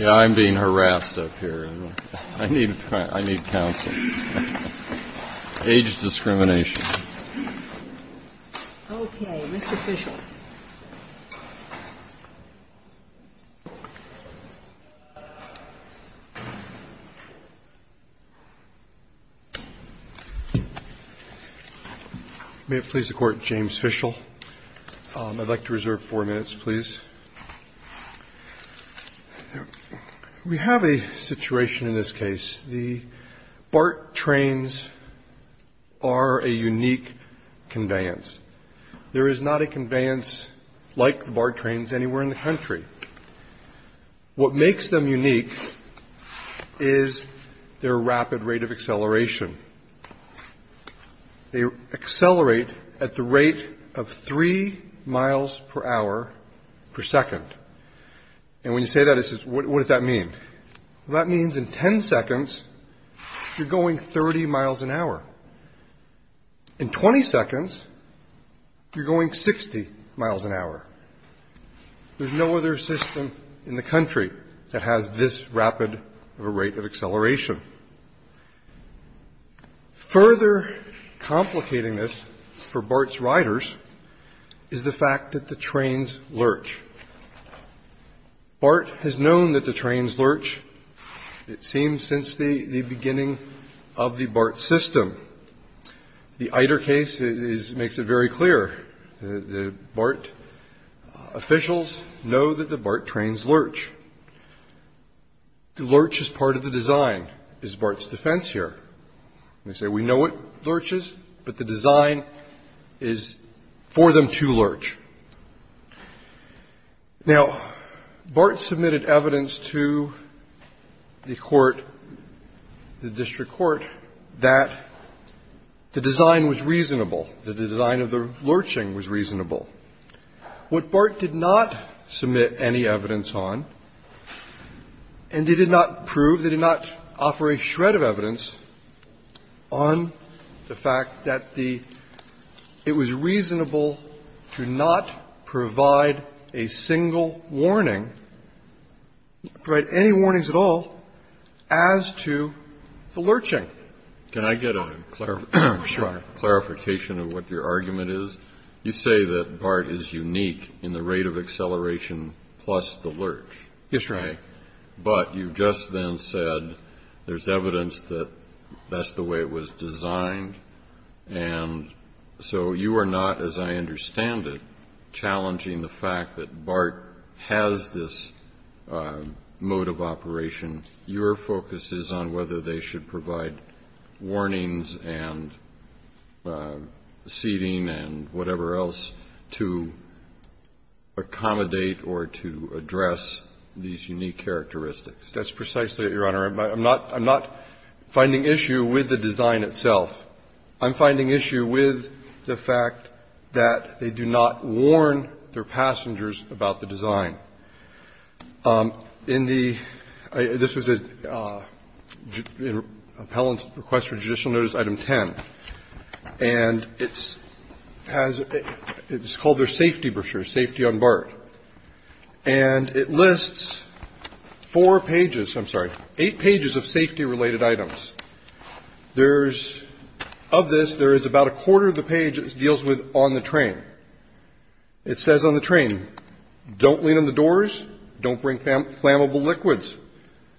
I'm being harassed up here. I need counsel. Age discrimination. Okay. Mr. Fishel. May it please the Court, James Fishel. I'd like to reserve four minutes, please. We have a situation in this case. The BART trains are a unique conveyance. There is not a conveyance like the BART trains anywhere in the country. What makes them unique is their rapid rate of acceleration. They accelerate at the rate of three miles per hour per second. And when you say that, what does that mean? Well, that means in ten seconds, you're going 30 miles an hour. In 20 seconds, you're going 60 miles an hour. There's no other system in the country that has this rapid of a rate of acceleration. Further complicating this for BART's riders is the fact that the trains lurch. BART has known that the trains lurch, it seems, since the beginning of the BART system. The ITER case makes it very clear. The BART officials know that the BART trains lurch. The lurch is part of the design, is BART's defense here. They say, we know it lurches, but the design is for them to lurch. Now, BART submitted evidence to the court, the district court, that the design was reasonable, that the design of the lurching was reasonable. What BART did not submit any evidence on, and they did not prove, they did not offer a shred of evidence on the fact that the ‑‑ it was reasonable to not provide a single warning, provide any warnings at all, as to the lurching. Can I get a clarification of what your argument is? You say that BART is unique in the rate of acceleration plus the lurch. Yes, Your Honor. Okay. But you just then said there's evidence that that's the way it was designed. And so you are not, as I understand it, challenging the fact that BART has this mode of operation. Your focus is on whether they should provide warnings and seating and whatever else to accommodate or to address these unique characteristics. That's precisely it, Your Honor. I'm not finding issue with the design itself. I'm finding issue with the fact that they do not warn their passengers about the design. In the ‑‑ this was an appellant's request for judicial notice, item 10. And it's called their safety brochure, safety on BART. And it lists four pages, I'm sorry, eight pages of safety-related items. There's ‑‑ of this, there is about a quarter of the page that deals with on the train. It says on the train, don't lean on the doors, don't bring flammable liquids.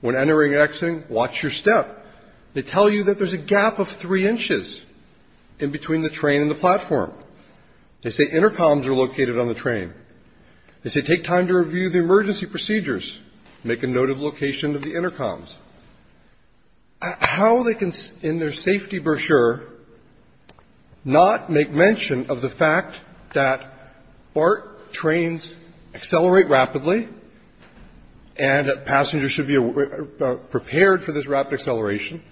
When entering and exiting, watch your step. They tell you that there's a gap of three inches in between the train and the platform. They say intercoms are located on the train. They say take time to review the emergency procedures. Make a note of location of the intercoms. How they can, in their safety brochure, not make mention of the fact that BART trains accelerate rapidly and passengers should be prepared for this rapid acceleration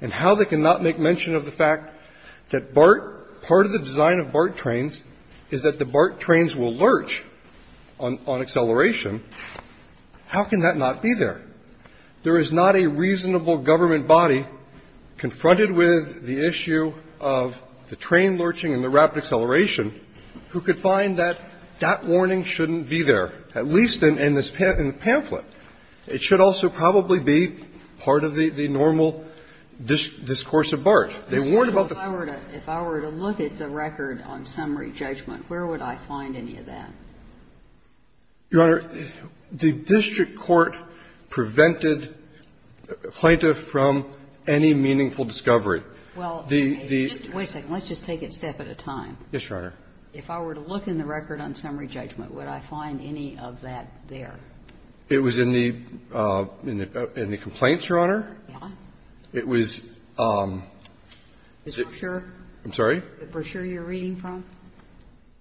and how they can not make mention of the fact that BART ‑‑ part of the design of BART trains is that the BART trains will lurch on acceleration. How can that not be there? There is not a reasonable government body confronted with the issue of the train lurching and the rapid acceleration who could find that that warning shouldn't be there, at least in this ‑‑ in the pamphlet. It should also probably be part of the normal discourse of BART. They warned about the ‑‑ If I were to look at the record on summary judgment, where would I find any of that? Your Honor, the district court prevented Plaintiff from any meaningful discovery. Well, okay. Wait a second. Let's just take it a step at a time. Yes, Your Honor. If I were to look in the record on summary judgment, would I find any of that there? It was in the complaints, Your Honor. Yeah. It was ‑‑ The brochure? I'm sorry? The brochure you're reading from?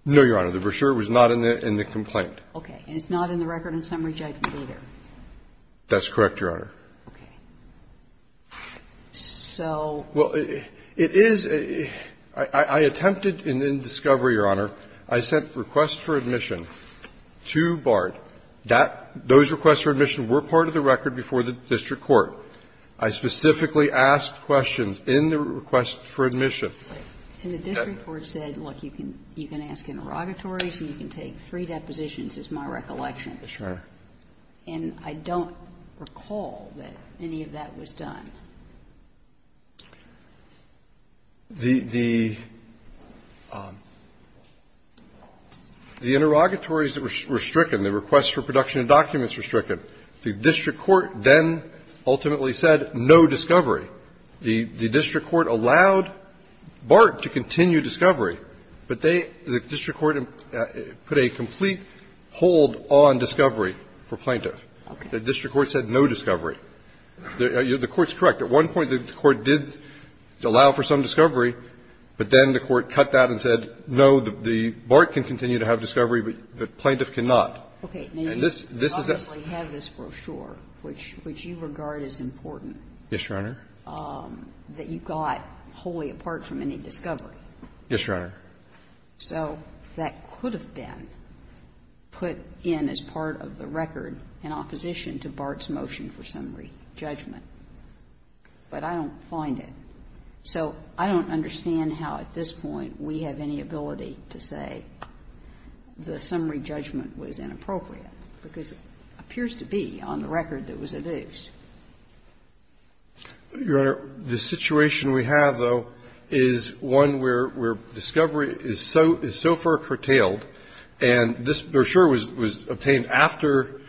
No, Your Honor. The brochure was not in the complaint. And it's not in the record on summary judgment either? That's correct, Your Honor. Okay. So ‑‑ Well, it is ‑‑ I attempted in discovery, Your Honor. I sent requests for admission to BART. That ‑‑ those requests for admission were part of the record before the district court. I specifically asked questions in the request for admission. And the district court said, look, you can ask interrogatories and you can take three depositions, is my recollection. Sure. And I don't recall that any of that was done. The ‑‑ the interrogatories were stricken. The requests for production of documents were stricken. The district court then ultimately said no discovery. The district court allowed BART to continue discovery, but they ‑‑ the district court put a complete hold on discovery for plaintiff. Okay. The district court said no discovery. The court's correct. At one point the court did allow for some discovery, but then the court cut that and said, no, the BART can continue to have discovery, but plaintiff cannot. And this is a ‑‑ Now, you obviously have this brochure, which you regard as important. Yes, Your Honor. That you got wholly apart from any discovery. Yes, Your Honor. So that could have been put in as part of the record in opposition to BART's motion for summary judgment, but I don't find it. So I don't understand how at this point we have any ability to say the summary judgment was inappropriate, because it appears to be on the record that it was adduced. Your Honor, the situation we have, though, is one where discovery is so far curtailed, and this brochure was obtained after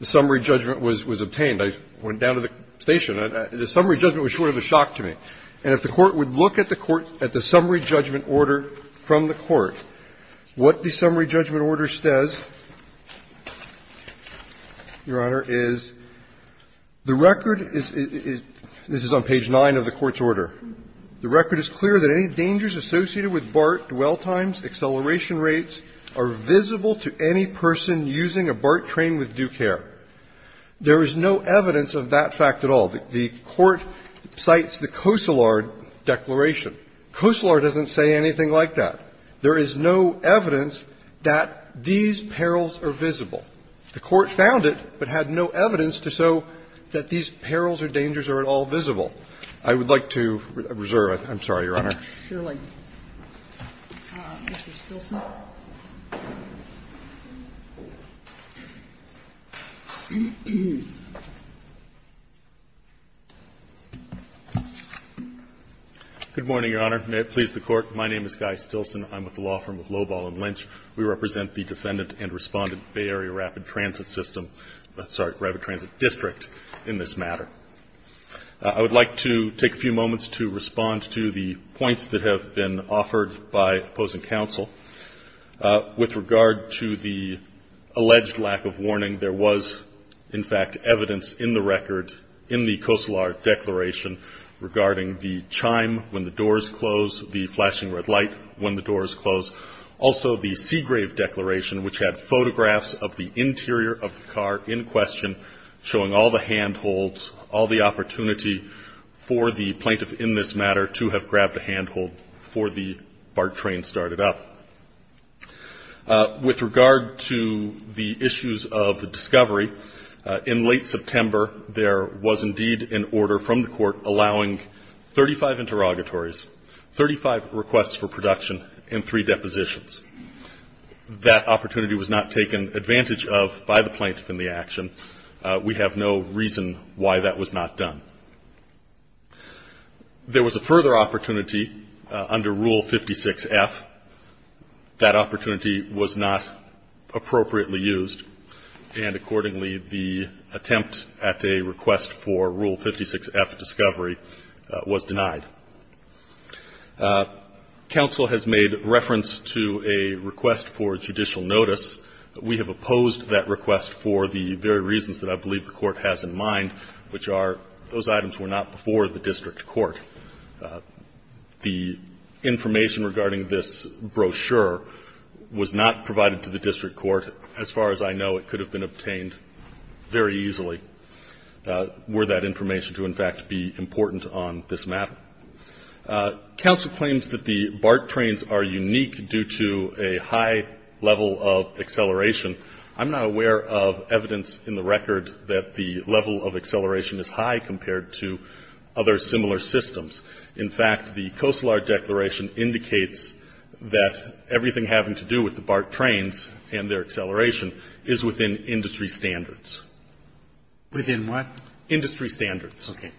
the summary judgment was obtained. I went down to the station. The summary judgment was short of a shock to me. And if the Court would look at the summary judgment order from the Court, what the summary judgment order says, Your Honor, is the record is ‑‑ this is on page 9 of the Court's order. The record is clear that any dangers associated with BART dwell times, acceleration rates, are visible to any person using a BART train with due care. There is no evidence of that fact at all. The Court cites the Cosellard declaration. Cosellard doesn't say anything like that. There is no evidence that these perils are visible. The Court found it, but had no evidence to show that these perils or dangers are at all visible. I would like to reserve. I'm sorry, Your Honor. Sotomayor, Mr. Stilson. Good morning, Your Honor. May it please the Court. My name is Guy Stilson. I'm with the law firm of Lobahl and Lynch. We represent the defendant and respondent, Bay Area Rapid Transit System ‑‑ sorry, Rapid Transit District in this matter. I would like to take a few moments to respond to the points that have been offered by opposing counsel. With regard to the alleged lack of warning, there was, in fact, evidence in the record in the Cosellard declaration regarding the chime when the doors close, the flashing red light when the doors close. Also, the Seagrave declaration, which had photographs of the interior of the car in all the opportunity for the plaintiff in this matter to have grabbed a handhold before the BART train started up. With regard to the issues of discovery, in late September, there was indeed an order from the Court allowing 35 interrogatories, 35 requests for production, and three depositions. That opportunity was not taken advantage of by the plaintiff in the action. We have no reason why that was not done. There was a further opportunity under Rule 56F. That opportunity was not appropriately used, and accordingly, the attempt at a request for Rule 56F discovery was denied. Counsel has made reference to a request for judicial notice. We have opposed that request for the very reasons that I believe the Court has in mind, which are those items were not before the district court. The information regarding this brochure was not provided to the district court. As far as I know, it could have been obtained very easily were that information to, in fact, be important on this map. Counsel claims that the BART trains are unique due to a high level of acceleration. I'm not aware of evidence in the record that the level of acceleration is high compared to other similar systems. In fact, the Coastal Art Declaration indicates that everything having to do with the BART trains and their acceleration is within industry standards. Within what? Industry standards. Okay.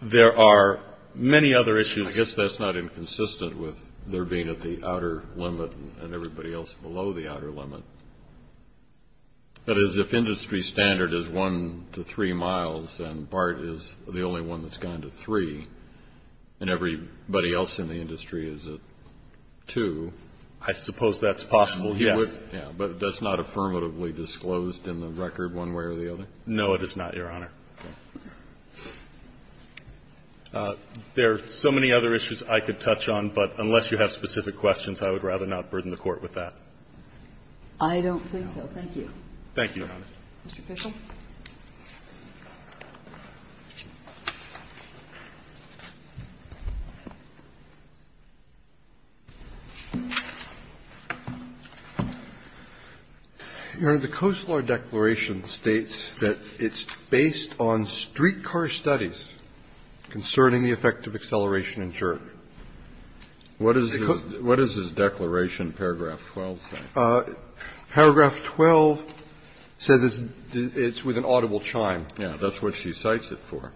There are many other issues. I guess that's not inconsistent with there being at the outer limit and everybody else below the outer limit. That is, if industry standard is 1 to 3 miles and BART is the only one that's gone to 3 and everybody else in the industry is at 2. I suppose that's possible, yes. Yeah. But that's not affirmatively disclosed in the record one way or the other? No, it is not, Your Honor. Okay. There are so many other issues I could touch on, but unless you have specific questions, I would rather not burden the Court with that. I don't think so. Thank you, Your Honor. Mr. Fishel. Your Honor, the Coastal Art Declaration states that it's based on streetcar studies concerning the effect of acceleration and jerk. What does this declaration, paragraph 12, say? Paragraph 12 says it's with an audible chime. Yeah. That's what she cites it for.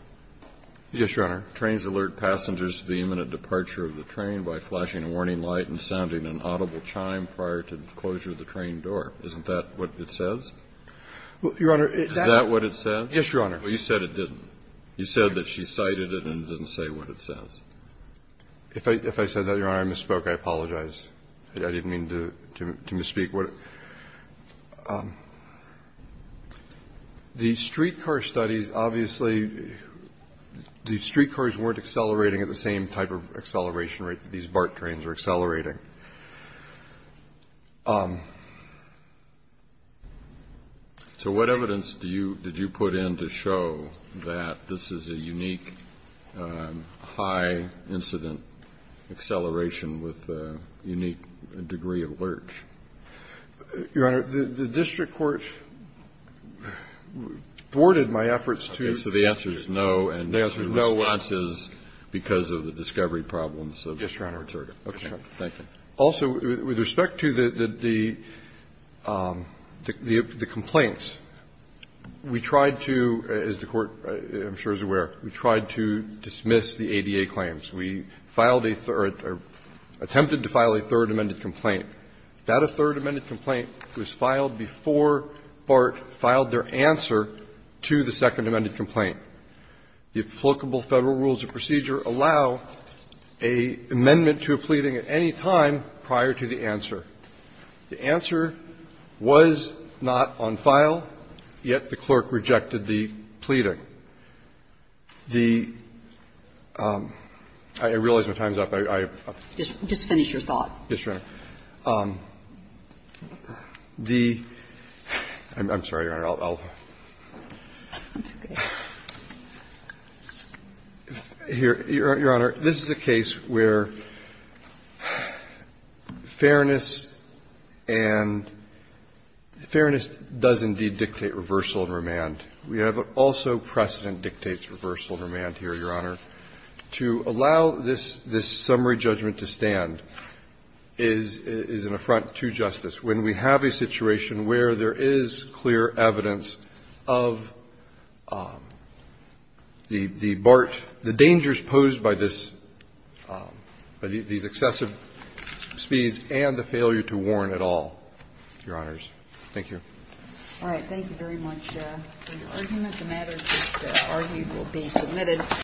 Yes, Your Honor. Trains alert passengers to the imminent departure of the train by flashing a warning light and sounding an audible chime prior to closure of the train door. Isn't that what it says? Your Honor, that's what it says. Yes, Your Honor. Well, you said it didn't. You said that she cited it and didn't say what it says. If I said that, Your Honor, I misspoke. I apologize. I didn't mean to misspeak. The streetcar studies, obviously, the streetcars weren't accelerating at the same type of acceleration rate that these BART trains were accelerating. So what evidence did you put in to show that this is a unique, high-incident acceleration with a unique degree of lurch? Your Honor, the district court thwarted my efforts to answer the question. Okay. So the answer is no, and the answer is no answers because of the discovery problems of Mr. Rotterda. Yes, Your Honor. Okay. Thank you. Also, with respect to the complaints, we tried to, as the Court, I'm sure, is aware, we tried to dismiss the ADA claims. We filed a third or attempted to file a third amended complaint. That third amended complaint was filed before BART filed their answer to the second amended complaint. The applicable Federal rules of procedure allow an amendment to a pleading at any time prior to the answer. The answer was not on file, yet the clerk rejected the pleading. The – I realize my time's up. I – I – Just finish your thought. Yes, Your Honor. The – I'm sorry, Your Honor, I'll – I'll – That's okay. Your Honor, this is a case where fairness and – fairness does indeed dictate reversal and remand. We have also precedent dictates reversal and remand here, Your Honor. To allow this – this summary judgment to stand is – is an affront to justice when we have a situation where there is clear evidence of the – the BART – the dangers posed by this – by these excessive speeds and the failure to warn at all, Your Honors. Thank you. All right. Thank you very much. The argument – the matter just argued will be submitted. Thank you.